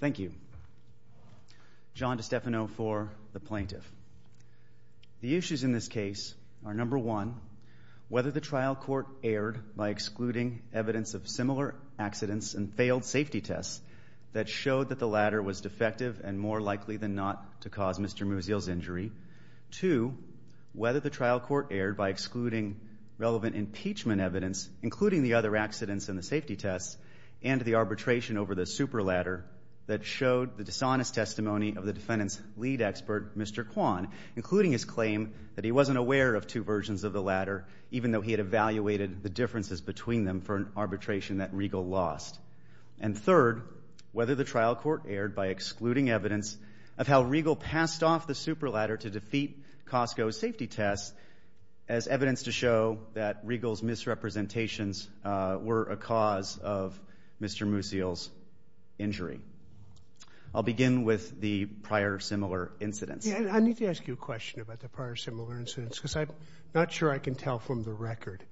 Thank you. John DiStefano for the Plaintiff. The issues in this case are number one, whether the trial court erred by excluding evidence of similar accidents and failed safety tests that showed that the latter was defective and more likely than not to cause Mr. Musial's injury. Two, whether the trial court erred by excluding relevant impeachment evidence, including the other accidents and the safety tests and the arbitration over the super ladder that showed the dishonest testimony of the defendant's lead expert, Mr. Kwan, including his claim that he wasn't aware of two versions of the ladder, even though he had evaluated the differences between them for an arbitration that Riegel lost. And third, whether the trial court erred by excluding evidence of how Riegel passed off the super ladder to defeat Costco's evidence to show that Riegel's misrepresentations were a cause of Mr. Musial's injury. I'll begin with the prior similar incidents. I need to ask you a question about the prior similar incidents because I'm not sure I can tell from the record.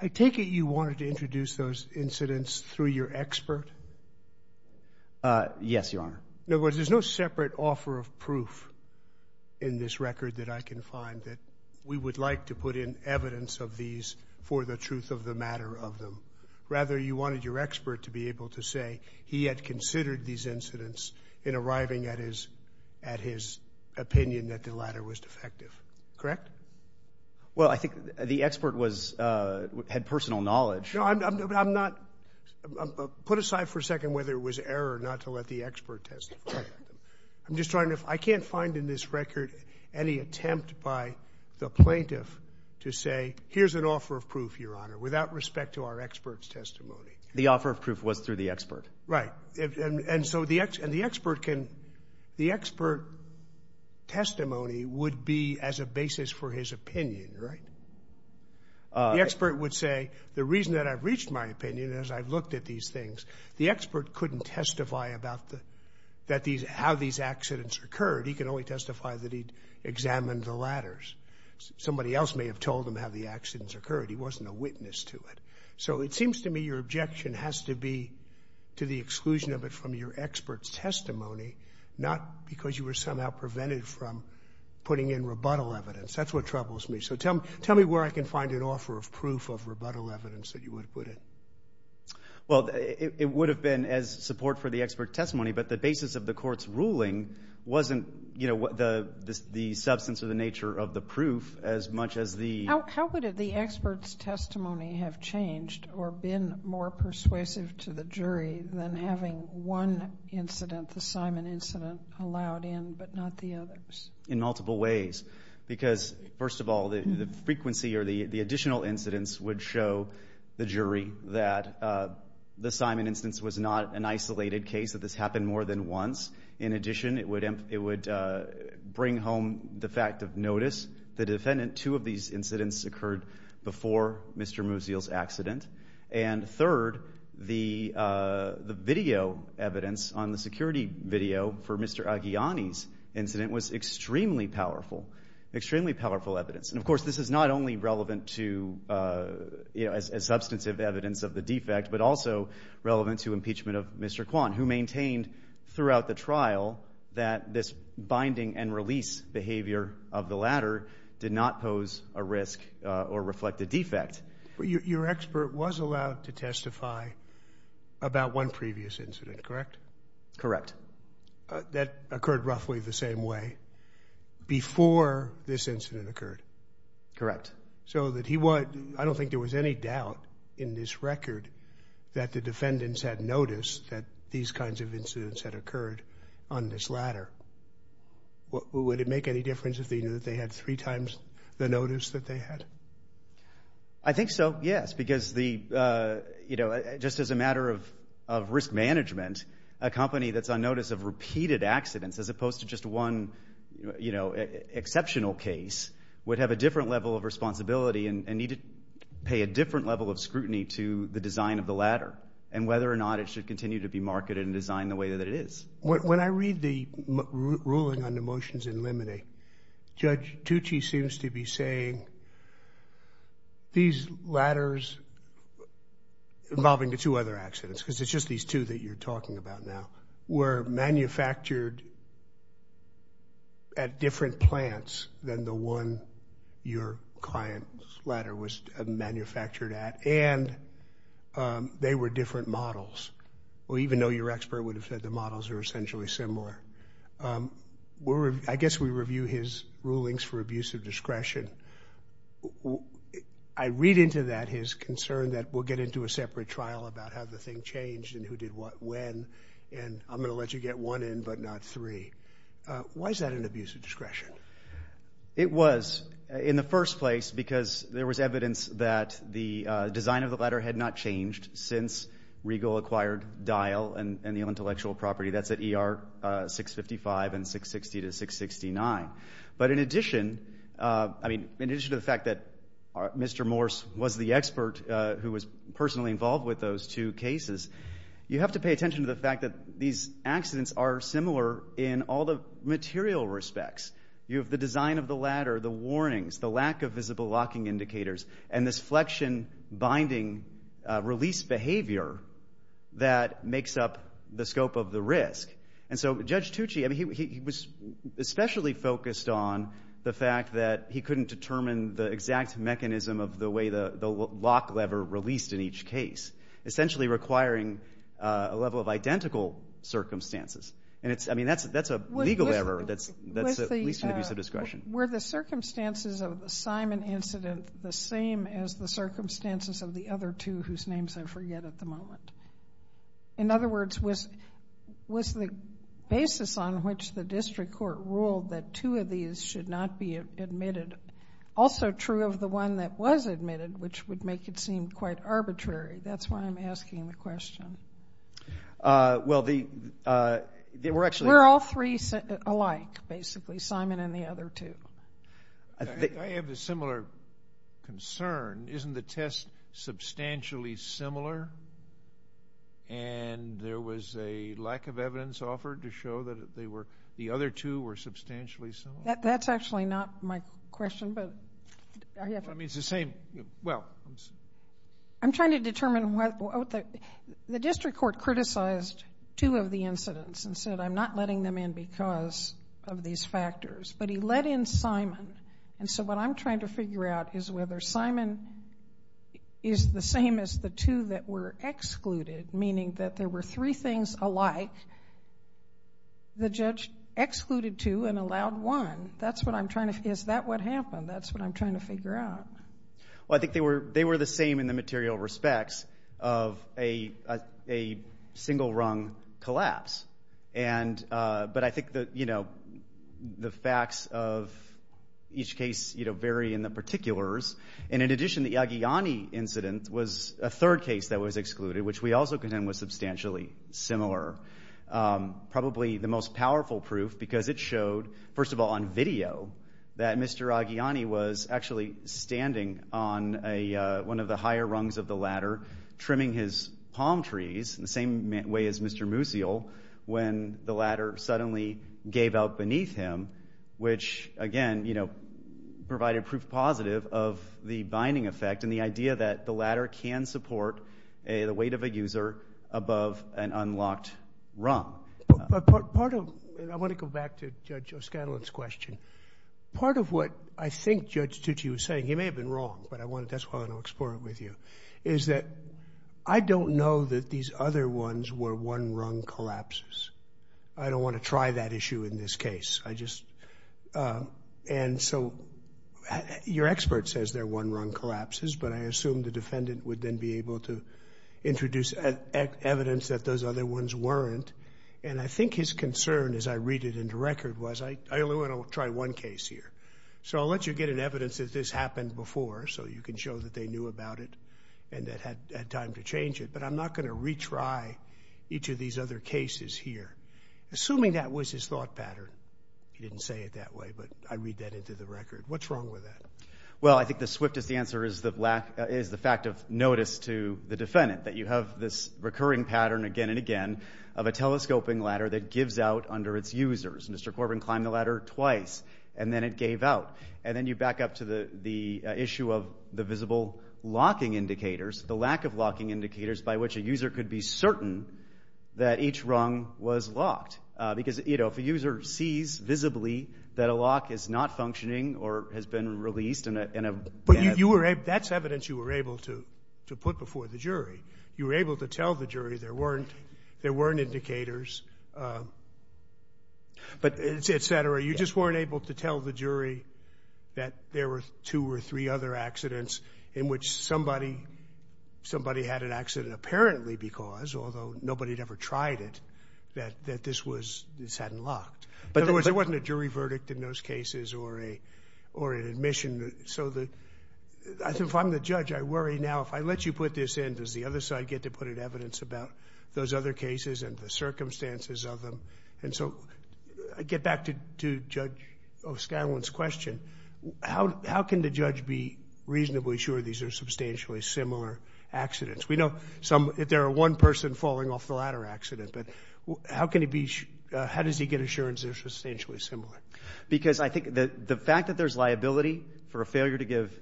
I take it you wanted to introduce those incidents through your expert? Yes, Your Honor. In other words, there's no separate offer of proof in this record that I can find that we would like to put in evidence of these for the truth of the matter of them. Rather, you wanted your expert to be able to say he had considered these incidents in arriving at his at his opinion that the ladder was defective, correct? Well, I think the expert was had personal knowledge. No, I'm not. Put aside for a second whether it was error not to let the expert test. I'm just trying to I can't find in this record any attempt by the plaintiff to say here's an offer of proof, Your Honor, without respect to our experts testimony. The offer of proof was through the expert, right? And so the X and the expert can the expert testimony would be as a basis for his opinion, right? The expert would say the reason that I've reached my opinion is I've looked at these things. The expert couldn't testify about the that these how these accidents occurred. He can only testify that he examined the ladders. Somebody else may have told him how the accidents occurred. He wasn't a witness to it. So it seems to me your objection has to be to the exclusion of it from your expert's testimony, not because you were somehow prevented from putting in rebuttal evidence. That's what troubles me. So tell me, tell me where I can find an offer of proof of rebuttal evidence that you would put it. Well, it would have been as support for the expert testimony. But the basis of the court's ruling wasn't, you know, what the the substance of the nature of the proof as much as the how would the experts testimony have changed or been more incident, the Simon incident allowed in, but not the others in multiple ways. Because first of all, the frequency or the additional incidents would show the jury that the Simon instance was not an isolated case that this happened more than once. In addition, it would it would bring home the fact of notice the defendant. Two of these incidents occurred before Mr. Musial's accident. And third, the the video evidence on the security video for Mr. Aghiani's incident was extremely powerful, extremely powerful evidence. And of course, this is not only relevant to a substantive evidence of the defect, but also relevant to impeachment of Mr. Kwan, who maintained throughout the trial that this binding and or reflect the defect. Your expert was allowed to testify about one previous incident, correct? Correct. That occurred roughly the same way before this incident occurred. Correct. So that he would. I don't think there was any doubt in this record that the defendants had noticed that these kinds of incidents had occurred on this ladder. Would it make any difference if they knew that they had three times the notice that they had? I think so. Yes, because the you know, just as a matter of of risk management, a company that's on notice of repeated accidents as opposed to just one, you know, exceptional case would have a different level of responsibility and need to pay a different level of scrutiny to the design of the ladder and whether or not it should continue to be marketed and designed the way that it is. When I read the ruling on the motions in limine, Judge Tucci seems to be saying these ladders involving the two other accidents, because it's just these two that you're talking about now, were manufactured at different plants than the one your client's ladder was manufactured at and they were different models. Well, even though your expert would have said the models are essentially similar. I guess we review his rulings for abuse of discretion. I read into that his concern that we'll get into a separate trial about how the thing changed and who did what, when, and I'm going to let you get one in but not three. Why is that an abuse of discretion? It was in the first place because there was evidence that the design of the ladder had not changed since Regal acquired Dial and the intellectual property. That's at ER 655 and 660 to 669. But in addition, I mean, in addition to the fact that Mr. Morse was the expert who was personally involved with those two cases, you have to pay attention to the fact that these accidents are similar in all the material respects. You have the design of the ladder, the warnings, the lack of visible locking indicators, and this flexion binding release behavior that makes up the scope of the risk. And so Judge Tucci, I mean, he was especially focused on the fact that he couldn't determine the exact mechanism of the way the lock lever released in each case, essentially requiring a level of identical circumstances. And it's, I mean, that's a legal error that's at least an abuse of discretion. Were the circumstances of the Simon incident the same as the circumstances of the other two whose names I forget at the moment? In other words, was the basis on which the district court ruled that two of these should not be admitted also true of the one that was admitted, which would make it seem quite arbitrary? That's why I'm asking the question. Well, the, we're actually We're all three alike, basically, Simon and the other two. I have a similar concern. Isn't the test substantially similar? And there was a lack of evidence offered to show that they were, the other two were substantially similar? That's actually not my question, but I mean, it's the same, well I'm trying to determine what, the district court criticized two of the incidents and said I'm not letting them in because of these factors, but he let in Simon. And so what I'm trying to figure out is whether Simon is the same as the two that were excluded, meaning that there were three things alike the judge excluded two and allowed one. That's what I'm trying to, is that what happened? That's what I'm trying to figure out. Well, I think they were, they were the same in the material respects of a, a single rung collapse. And, but I think that, you know, the facts of each case, you know, vary in the particulars. And in addition, the Aghiani incident was a third case that was excluded, which we also contend was substantially similar. Probably the most powerful proof because it was standing on a, one of the higher rungs of the ladder, trimming his palm trees in the same way as Mr. Musial, when the ladder suddenly gave out beneath him, which again, you know, provided proof positive of the binding effect and the idea that the ladder can support a, the weight of a user above an unlocked rung. But part of, and I want to go back to Judge O'Scanlan's question. Part of what I think Judge Tucci was saying, he may have been wrong, but I want to, that's why I want to explore it with you, is that I don't know that these other ones were one rung collapses. I don't want to try that issue in this case. I just, and so your expert says they're one rung collapses, but I assume the defendant would then be able to introduce evidence that those other ones weren't. And I think his concern, as I read it into record, was I only want to try one case here. So I'll let you get an evidence that this happened before, so you can show that they knew about it and that had time to change it, but I'm not going to retry each of these other cases here. Assuming that was his thought pattern, he didn't say it that way, but I read that into the record. What's wrong with that? Well, I think the swiftest answer is the lack, is the fact of notice to the defendant, that you have this recurring pattern again and again of a telescoping ladder that gives out under its users. Mr. Corbin climbed the ladder twice, and then it gave out. And then you back up to the issue of the visible locking indicators, the lack of locking indicators by which a user could be certain that each rung was locked, because, you know, if a user sees visibly that a lock is not functioning or has been released in a… But you were able, that's evidence you were able to put before the jury. You were able to tell the jury there weren't, there weren't indicators, but etc. You just weren't able to tell the jury that there were two or three other accidents in which somebody had an accident apparently because, although nobody had ever tried it, that this was, this hadn't locked. But there wasn't a jury verdict in those cases or an admission. So, if I'm the judge, I worry now, if I let you put this in, does the other side get to put in evidence about those other cases and the circumstances of them? And so, I get back to Judge O'Scanlan's question. How can the judge be reasonably sure these are substantially similar accidents? We know some, if there are one person falling off the ladder accident, but how can he be, how does he get assurance they're substantially similar? Because I think the fact that there's liability for a failure to give,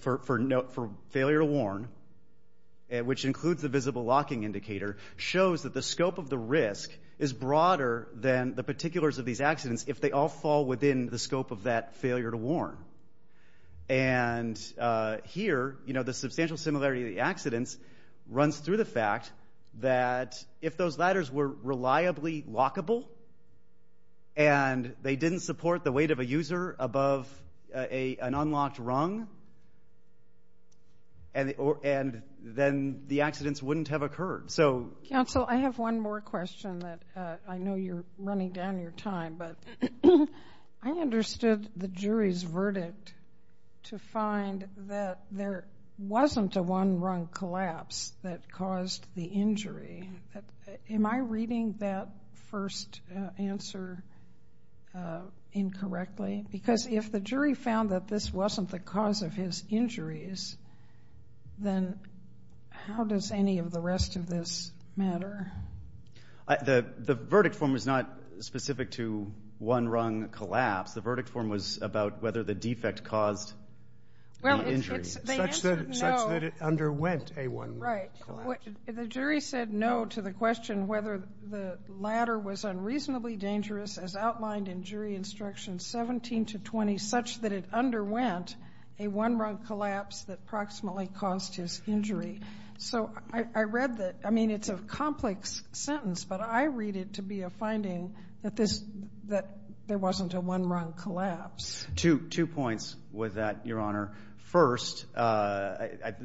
for failure to warn, which includes the visible locking indicator, shows that the scope of the risk is broader than the particulars of these accidents if they all fall within the scope of that failure to warn. And here, you know, the substantial similarity of the accidents runs through the support, the weight of a user above an unlocked rung, and then the accidents wouldn't have occurred. So... Counsel, I have one more question that I know you're running down your time, but I understood the jury's verdict to find that there wasn't a one rung collapse that caused the injury. Am I reading that first answer incorrectly? Because if the jury found that this wasn't the cause of his injuries, then how does any of the rest of this matter? The verdict form was not specific to one rung collapse. The verdict form was about whether the defect caused the injury. Well, it's... Such that it underwent a one rung collapse. Right. The jury said no to the question whether the latter was unreasonably dangerous as outlined in jury instruction 17 to 20, such that it underwent a one rung collapse that approximately caused his injury. So I read that. I mean, it's a complex sentence, but I read it to be a finding that there wasn't a one rung collapse. Two points with that, Your Honor. First, whether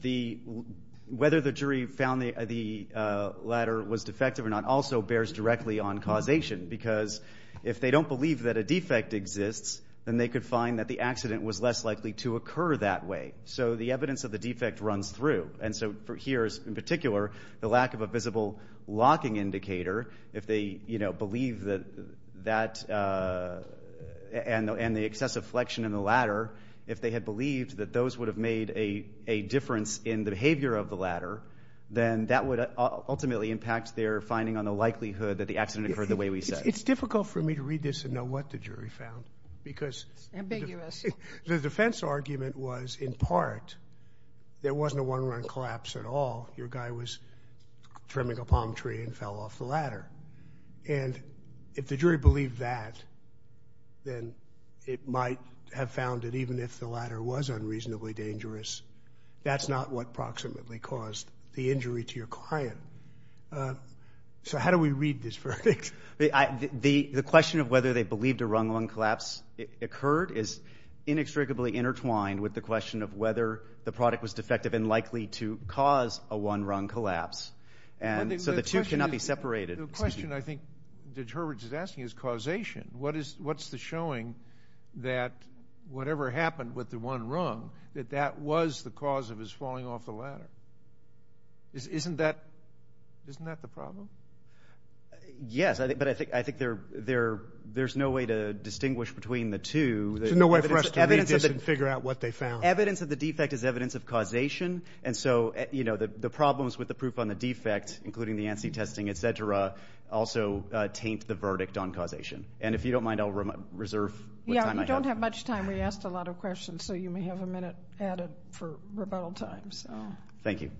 the jury found the latter was defective or not also bears directly on causation, because if they don't believe that a defect exists, then they could find that the accident was less likely to occur that way. So the evidence of the defect runs through. And so here is, in particular, the lack of a visible locking indicator. If they, you know, believe that that and the excessive flexion in the latter, if they had believed that those would have made a difference in the behavior of the latter, then that would ultimately impact their finding on the likelihood that the accident occurred the way we said. It's difficult for me to read this and know what the jury found, because the defense argument was in part, there wasn't a one rung collapse at all. Your guy was trimming a palm tree and fell off the ladder. And if the jury believed that, then it might have found that even if the latter was unreasonably dangerous, that's not what approximately caused the injury to your client. So how do we read this verdict? The question of whether they believed a rung rung collapse occurred is inextricably intertwined with the question of whether the product was defective and likely to cause a one rung collapse. And so the two cannot be separated. The question I think that Herbert is asking is causation. What is, what's the showing that whatever happened with the one rung, that that was the cause of his falling off the ladder? Isn't that, isn't that the problem? Yes, but I think, I think there, there, there's no way to distinguish between the two. There's no way for us to read this and figure out what they found. Evidence of the defect is evidence of causation. And so, you know, the problems with the proof on the defect, including the ANSI testing, et cetera, also taint the verdict on causation. And if you don't mind, I'll reserve what time I have. Yeah, we don't have much time. We asked a lot of questions, so you may have a minute added for rebuttal time, so. Thank you.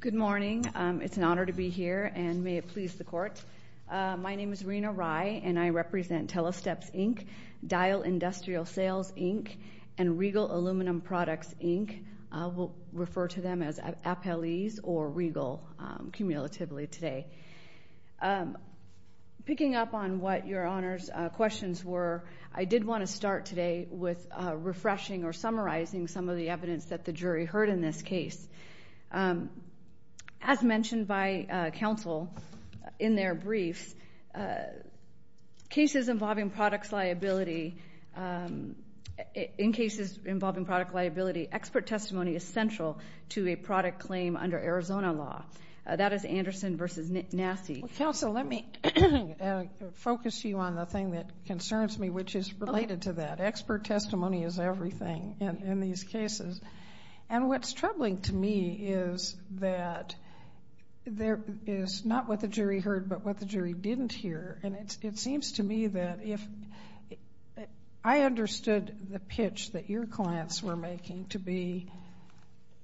Good morning. It's an honor to be here, and may it please the court. My name is Rena Rye, and I represent Telesteps, Inc., Dial Industrial Sales, Inc., and Regal Aluminum Products, Inc. I will refer to them as Appellees or Regal, cumulatively today. Picking up on what Your Honor's questions were, I did want to start today with refreshing or summarizing some of the evidence that the jury heard in this case. As mentioned by counsel in their briefs, cases involving products liability, in cases involving product liability, expert testimony is central to a product claim under Arizona law. That is Anderson v. Nassi. Well, counsel, let me focus you on the thing that concerns me, which is related to that. Expert testimony is everything in these cases, and what's troubling to me is that there is not what the jury heard, but what the jury didn't hear. It seems to me that if I understood the pitch that your clients were making to be,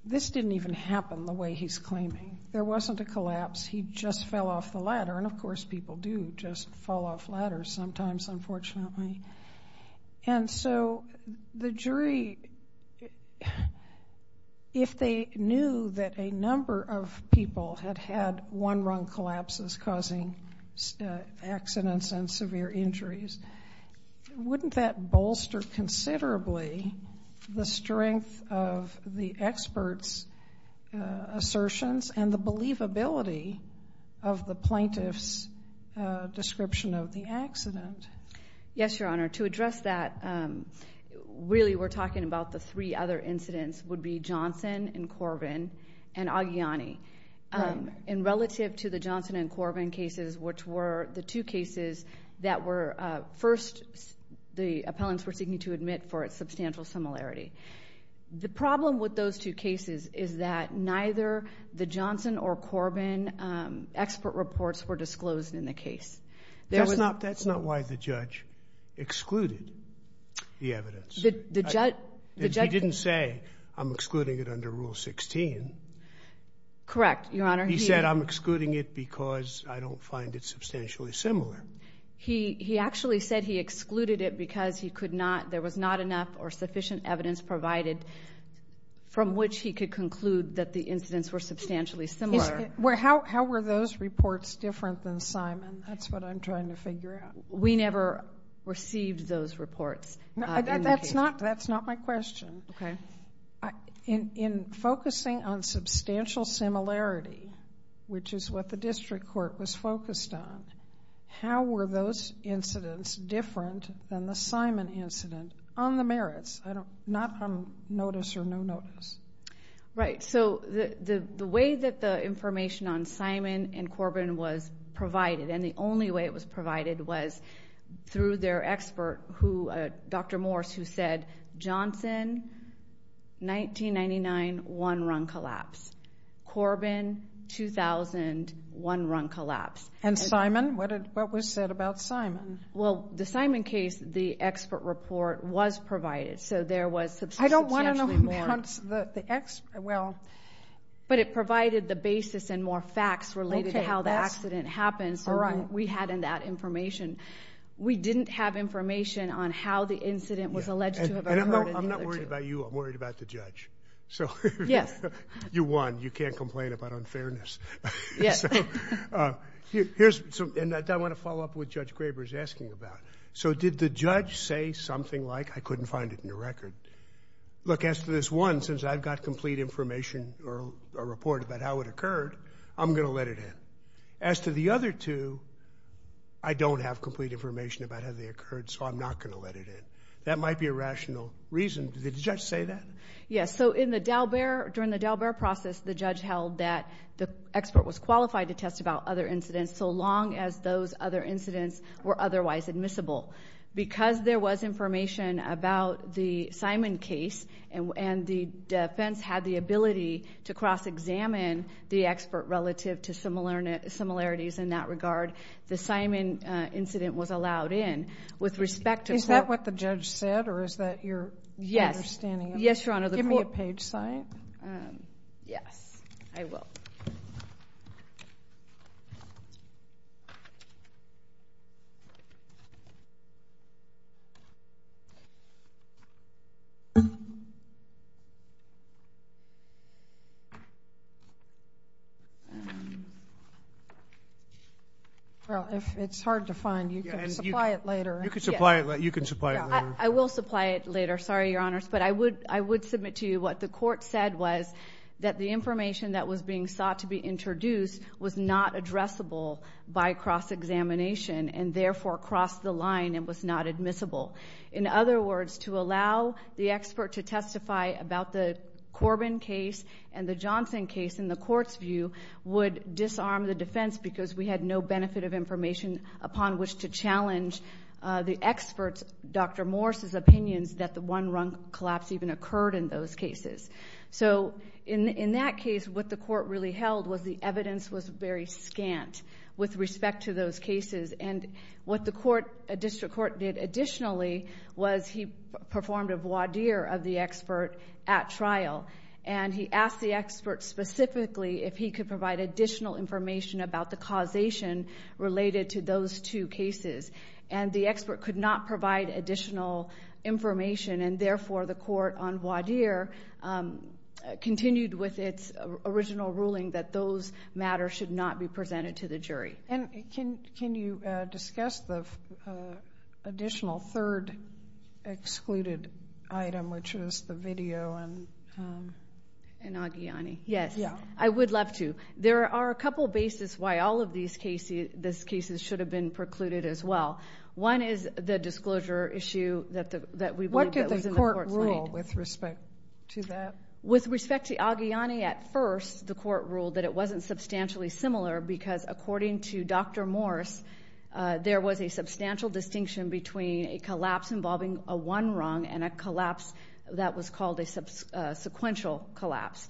this didn't even happen the way he's claiming. There wasn't a collapse. He just fell off the ladder, and of course people do just fall off ladders sometimes, unfortunately. And so the jury, if they knew that a number of people had had one-rung collapses causing accidents and severe injuries, wouldn't that bolster considerably the strength of the expert's assertions and the believability of the plaintiff's description of the accident? Yes, Your Honor. To address that, really we're talking about the three other incidents, would be Johnson and Corbin and Aguiliani. And relative to the Johnson and Corbin cases, which were the two cases that were first, the appellants were seeking to admit for its substantial similarity. The problem with those two cases is that neither the Johnson or Corbin expert That's not why the judge excluded the evidence. He didn't say, I'm excluding it under Rule 16. Correct, Your Honor. He said, I'm excluding it because I don't find it substantially similar. He actually said he excluded it because there was not enough or sufficient evidence provided from which he could conclude that the incidents were substantially similar. How were those reports different than Simon? That's what I'm trying to figure out. We never received those reports. That's not my question. Okay. In focusing on substantial similarity, which is what the district court was focused on, how were those incidents different than the Simon incident on the merits, not on notice or no notice? Right. So the way that the information on Simon and Corbin was provided, and the only way it was provided, was through their expert, Dr. Morse, who said, Johnson, 1999, one-run collapse. Corbin, 2000, one-run collapse. And Simon? What was said about Simon? Well, the Simon case, the expert report was provided. So there was substantially more... But it provided the basis and more facts related to how the accident happened. So we had in that information. We didn't have information on how the incident was alleged to have occurred. I'm not worried about you. I'm worried about the judge. Yes. You won. You can't complain about unfairness. Yes. And I want to follow up with Judge Graber's asking about, so did the judge say something like, I couldn't find it in your record? Look, as to this one, since I've got complete information or a report about how it occurred, I'm going to let it in. As to the other two, I don't have complete information about how they occurred, so I'm not going to let it in. That might be a rational reason. Did the judge say that? Yes. So in the Dalbert, during the Dalbert process, the judge held that the expert was qualified to test about other incidents so long as those other incidents were otherwise admissible. Because there was information about the Simon case and the defense had the ability to cross-examine the expert relative to similarities in that regard, the Simon incident was allowed in. Is that what the judge said, or is that your understanding? Yes, Your Honor. Give me a page sign. Yes, I will. Well, it's hard to find. You can supply it later. You can supply it later. I will supply it later. Sorry, Your Honors. But I would submit to you what the court said was that the information that was being sought to be introduced was not addressable by cross-examination and, therefore, crossed the line and was not admissible. In other words, to allow the expert to testify about the Corbin case and the Johnson case, in the court's view, would disarm the defense because we had no benefit of information upon which to challenge the expert's, Dr. Morris's, opinions that the one-run collapse even occurred in those cases. So in that case, what the court really held was the evidence was very scant with respect to those cases, and what the district court did additionally was he performed a voir dire of the expert at trial, and he asked the expert specifically if he could provide additional information about the causation related to those two cases, and the expert could not provide additional information, and, therefore, the court, on voir dire, continued with its original ruling that those matters should not be presented to the jury. And can you discuss the additional third excluded item, which is the video? And Aghiani. Yes. Yeah. I would love to. There are a couple of bases why all of these cases should have been precluded as well. One is the disclosure issue that we believe was in the court's mind. What did the court rule with respect to that? With respect to Aghiani, at first, the court ruled that it wasn't substantially similar because according to Dr. Morris, there was a substantial distinction between a collapse involving a one-run and a collapse that was called a sequential collapse.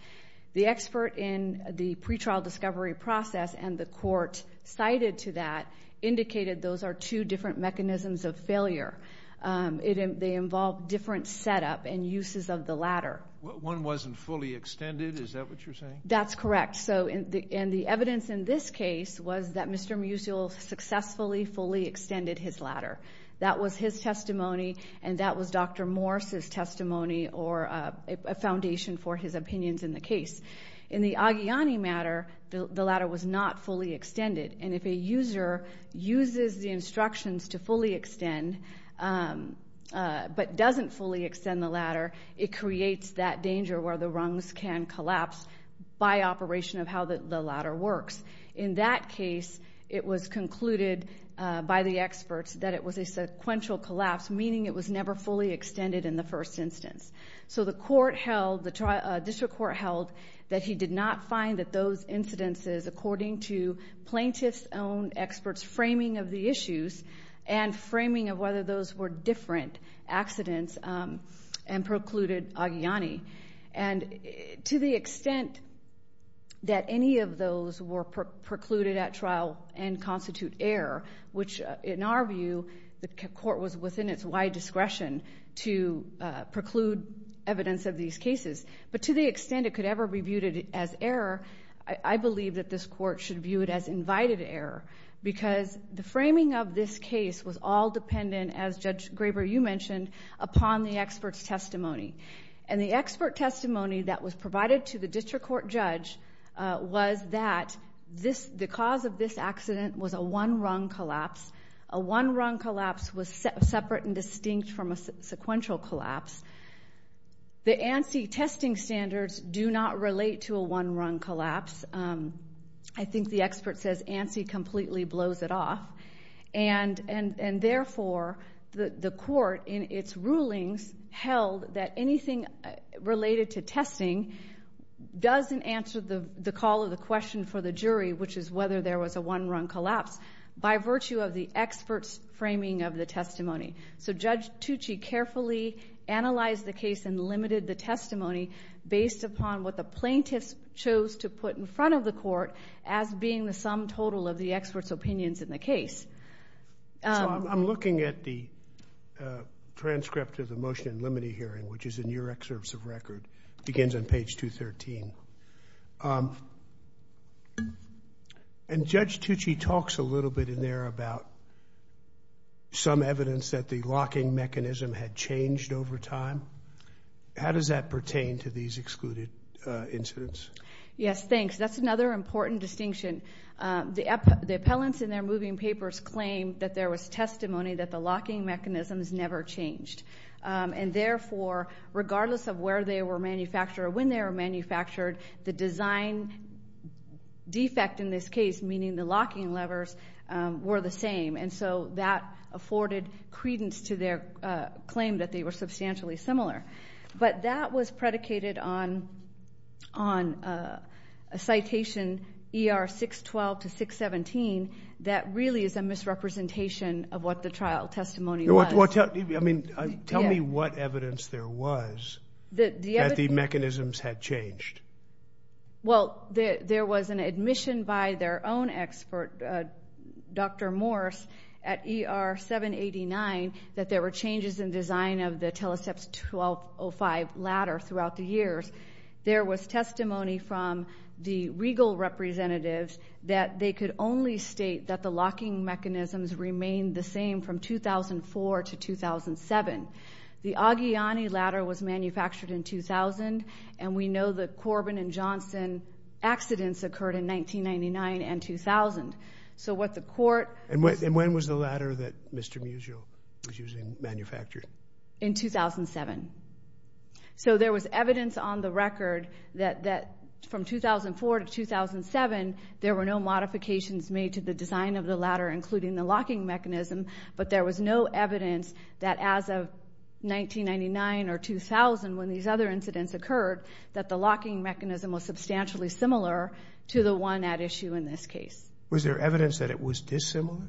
The expert in the pretrial discovery process and the court cited to that indicated those are two different mechanisms of failure. They involve different setup and uses of the ladder. One wasn't fully extended. Is that what you're saying? That's correct. And the evidence in this case was that Mr. Musial successfully fully extended his ladder. That was his testimony, and that was Dr. Morris's testimony or a foundation for his opinions in the case. In the Aghiani matter, the ladder was not fully extended, and if a user uses the instructions to fully extend but doesn't fully extend the ladder, it creates that danger where the rungs can collapse by operation of how the ladder works. In that case, it was concluded by the experts that it was a sequential collapse, meaning it was never fully extended in the first instance. So the court held, the district court held, that he did not find that those incidences according to plaintiff's own experts' framing of the issues and framing of whether those were different accidents and precluded Aghiani. And to the extent that any of those were precluded at trial and constitute error, which in our view the court was within its wide discretion to preclude evidence of these cases, but to the extent it could ever be viewed as error, I believe that this court should view it as invited error because the framing of this case was all dependent, as Judge Graber, you mentioned, upon the expert's testimony. And the expert testimony that was provided to the district court judge was that the cause of this accident was a one-rung collapse. A one-rung collapse was separate and distinct from a sequential collapse. The ANSI testing standards do not relate to a one-rung collapse. I think the expert says ANSI completely blows it off. And therefore, the court, in its rulings, held that anything related to testing doesn't answer the call of the question for the jury, which is whether there was a one-rung collapse, by virtue of the expert's framing of the testimony. So Judge Tucci carefully analyzed the case and limited the testimony based upon what the plaintiffs chose to put in front of the court as being the sum total of the expert's opinions in the case. So I'm looking at the transcript of the motion in limine hearing, which is in your excerpts of record. It begins on page 213. And Judge Tucci talks a little bit in there about some evidence that the locking mechanism had changed over time. How does that pertain to these excluded incidents? Yes, thanks. That's another important distinction. The appellants in their moving papers claim that there was testimony that the locking mechanisms never changed. And therefore, regardless of where they were manufactured or when they were manufactured, the design defect in this case, meaning the locking levers, were the same. And so that afforded credence to their claim that they were substantially similar. But that was predicated on a citation, ER 612 to 617, that really is a misrepresentation of what the trial testimony was. Tell me what evidence there was that the mechanisms had changed. Well, there was an admission by their own expert, Dr. Morse, at ER 789, that there were changes in design of the Teleseps 1205 ladder throughout the years. There was testimony from the regal representatives that they could only state that the locking mechanisms remained the same from 2004 to 2007. The Aguillani ladder was manufactured in 2000, and we know the Corbin and Johnson accidents occurred in 1999 and 2000. So what the court ---- And when was the ladder that Mr. Musial was using manufactured? In 2007. So there was evidence on the record that from 2004 to 2007, there were no modifications made to the design of the ladder, including the locking mechanism, but there was no evidence that as of 1999 or 2000, when these other incidents occurred, that the locking mechanism was substantially similar to the one at issue in this case. Was there evidence that it was dissimilar?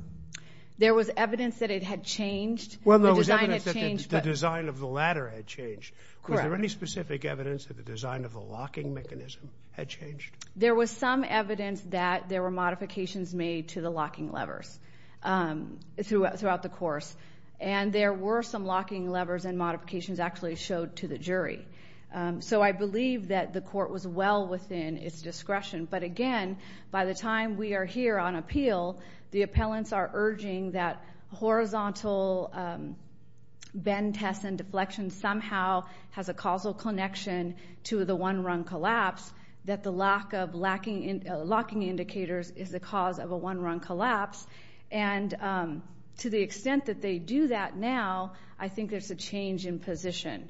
There was evidence that it had changed. Well, there was evidence that the design of the ladder had changed. Was there any specific evidence that the design of the locking mechanism had changed? There was some evidence that there were modifications made to the locking levers throughout the course, and there were some locking levers and modifications actually showed to the jury. So I believe that the court was well within its discretion. But, again, by the time we are here on appeal, the appellants are urging that horizontal bend, test, and deflection somehow has a causal connection to the one-run collapse, that the lack of locking indicators is the cause of a one-run collapse. And to the extent that they do that now, I think there's a change in position.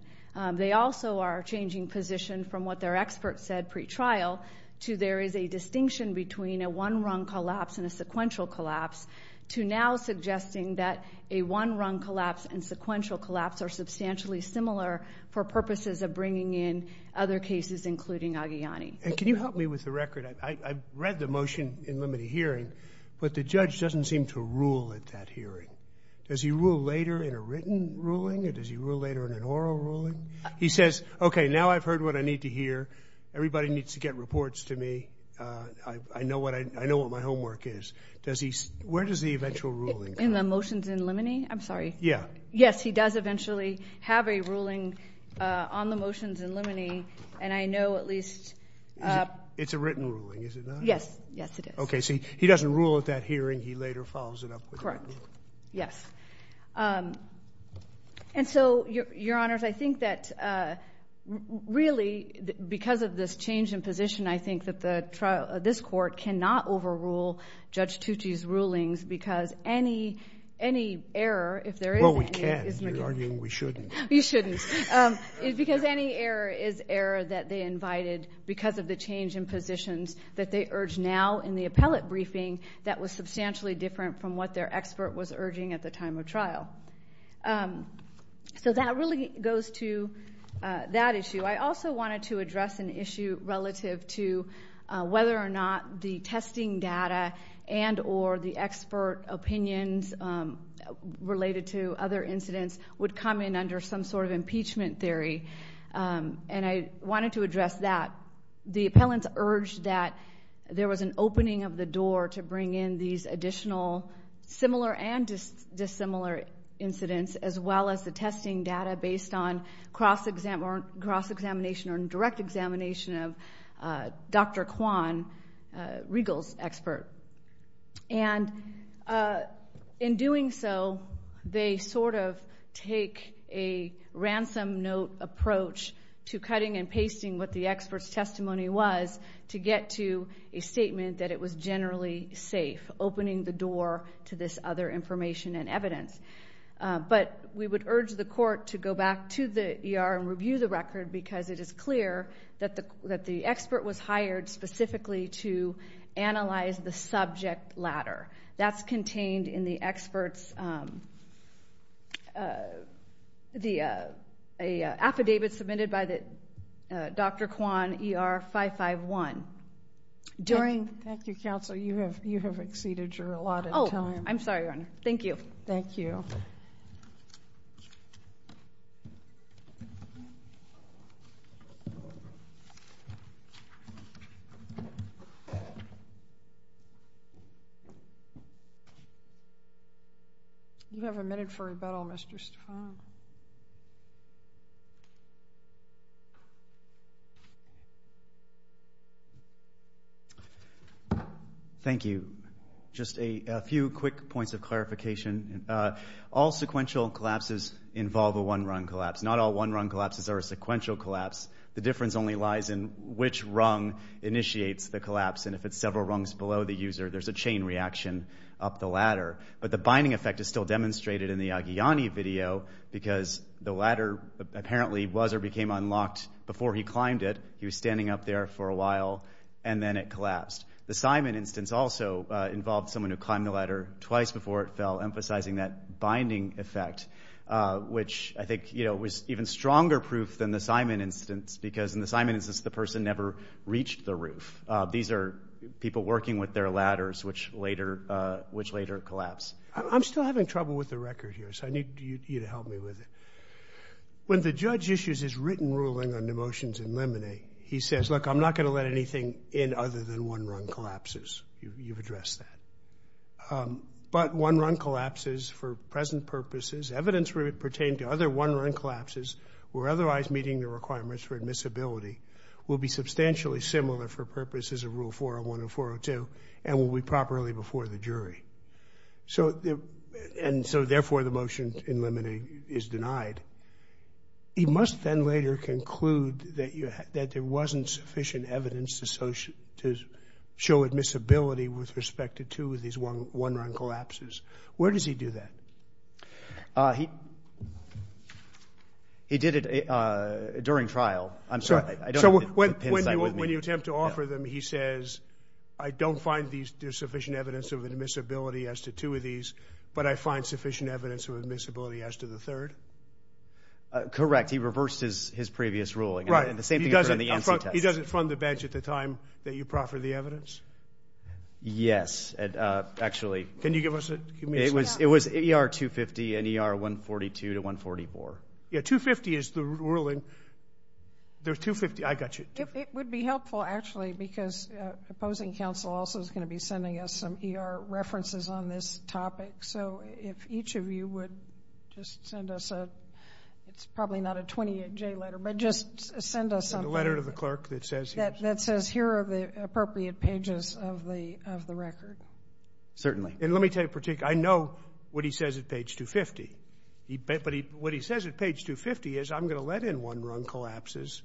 They also are changing position from what their expert said pre-trial to there is a distinction between a one-run collapse and a sequential collapse to now suggesting that a one-run collapse and sequential collapse are substantially similar for purposes of bringing in other cases, including Aghiani. And can you help me with the record? I read the motion in limited hearing, but the judge doesn't seem to rule at that hearing. Does he rule later in a written ruling, or does he rule later in an oral ruling? He says, okay, now I've heard what I need to hear. Everybody needs to get reports to me. I know what my homework is. Where does the eventual ruling come from? In the motions in limine? I'm sorry. Yeah. Yes, he does eventually have a ruling on the motions in limine, and I know at least ---- It's a written ruling, is it not? Yes. Yes, it is. Okay. He doesn't rule at that hearing. He later follows it up with a written ruling. Correct. Yes. And so, Your Honors, I think that really because of this change in position, I think that this Court cannot overrule Judge Tucci's rulings because any error, if there is any ---- Well, we can. You're arguing we shouldn't. You shouldn't. Because any error is error that they invited because of the change in positions that they urge now in the appellate briefing that was substantially different from what their expert was urging at the time of trial. So that really goes to that issue. I also wanted to address an issue relative to whether or not the testing data and or the expert opinions related to other incidents would come in under some sort of impeachment theory. And I wanted to address that. The appellants urged that there was an opening of the door to bring in these additional similar and dissimilar incidents as well as the testing data based on cross-examination or direct examination of Dr. Kwan, Riegel's expert. And in doing so, they sort of take a ransom note approach to cutting and pasting what the expert's testimony was to get to a statement that it was generally safe, opening the door to this other information and evidence. But we would urge the Court to go back to the ER and review the record because it is clear that the expert was hired specifically to analyze the subject ladder. That's contained in the expert's affidavit submitted by Dr. Kwan, ER 551. Thank you, Counsel. You have exceeded your allotted time. Oh, I'm sorry, Your Honor. Thank you. Thank you. You have a minute for rebuttal, Mr. Stefan. Thank you. Just a few quick points of clarification. All sequential collapses involve a one-rung collapse. Not all one-rung collapses are a sequential collapse. The difference only lies in which rung initiates the collapse. And if it's several rungs below the user, there's a chain reaction up the ladder. But the binding effect is still demonstrated in the Aghiani video because the ladder apparently was or became unlocked before he climbed it. He was standing up there for a while, and then it collapsed. The Simon instance also involved someone who climbed the ladder twice before it fell, emphasizing that binding effect, which I think was even stronger proof than the Simon instance because in the Simon instance, the person never reached the roof. These are people working with their ladders, which later collapse. I'm still having trouble with the record here, so I need you to help me with it. When the judge issues his written ruling on the motions in limine, he says, look, I'm not going to let anything in other than one-rung collapses. You've addressed that. But one-run collapses for present purposes, evidence pertained to other one-run collapses or otherwise meeting the requirements for admissibility, will be substantially similar for purposes of Rule 401 and 402 and will be properly before the jury. And so, therefore, the motion in limine is denied. You must then later conclude that there wasn't sufficient evidence to show admissibility with respect to two of these one-run collapses. Where does he do that? He did it during trial. I'm sorry. When you attempt to offer them, he says, I don't find there's sufficient evidence of admissibility as to two of these, but I find sufficient evidence of admissibility as to the third? Correct. He reversed his previous ruling. Right. He doesn't fund the bench at the time that you proffered the evidence? Yes, actually. Can you give us a communication? It was ER 250 and ER 142 to 144. Yeah, 250 is the ruling. There's 250. I got you. It would be helpful, actually, because opposing counsel also is going to be sending us some ER references on this topic. So if each of you would just send us a ‑‑ it's probably not a 28J letter, but just send us something. A letter to the clerk that says here are the appropriate pages of the record. Certainly. And let me tell you, I know what he says at page 250. But what he says at page 250 is I'm going to let in one wrong collapses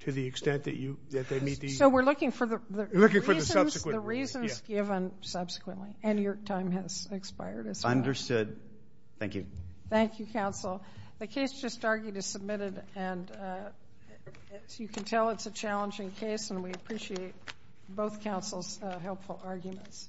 to the extent that they meet the ‑‑ So we're looking for the reasons given subsequently. And your time has expired as well. Understood. Thank you. Thank you, counsel. The case just argued is submitted, and as you can tell, it's a challenging case, and we appreciate both counsel's helpful arguments.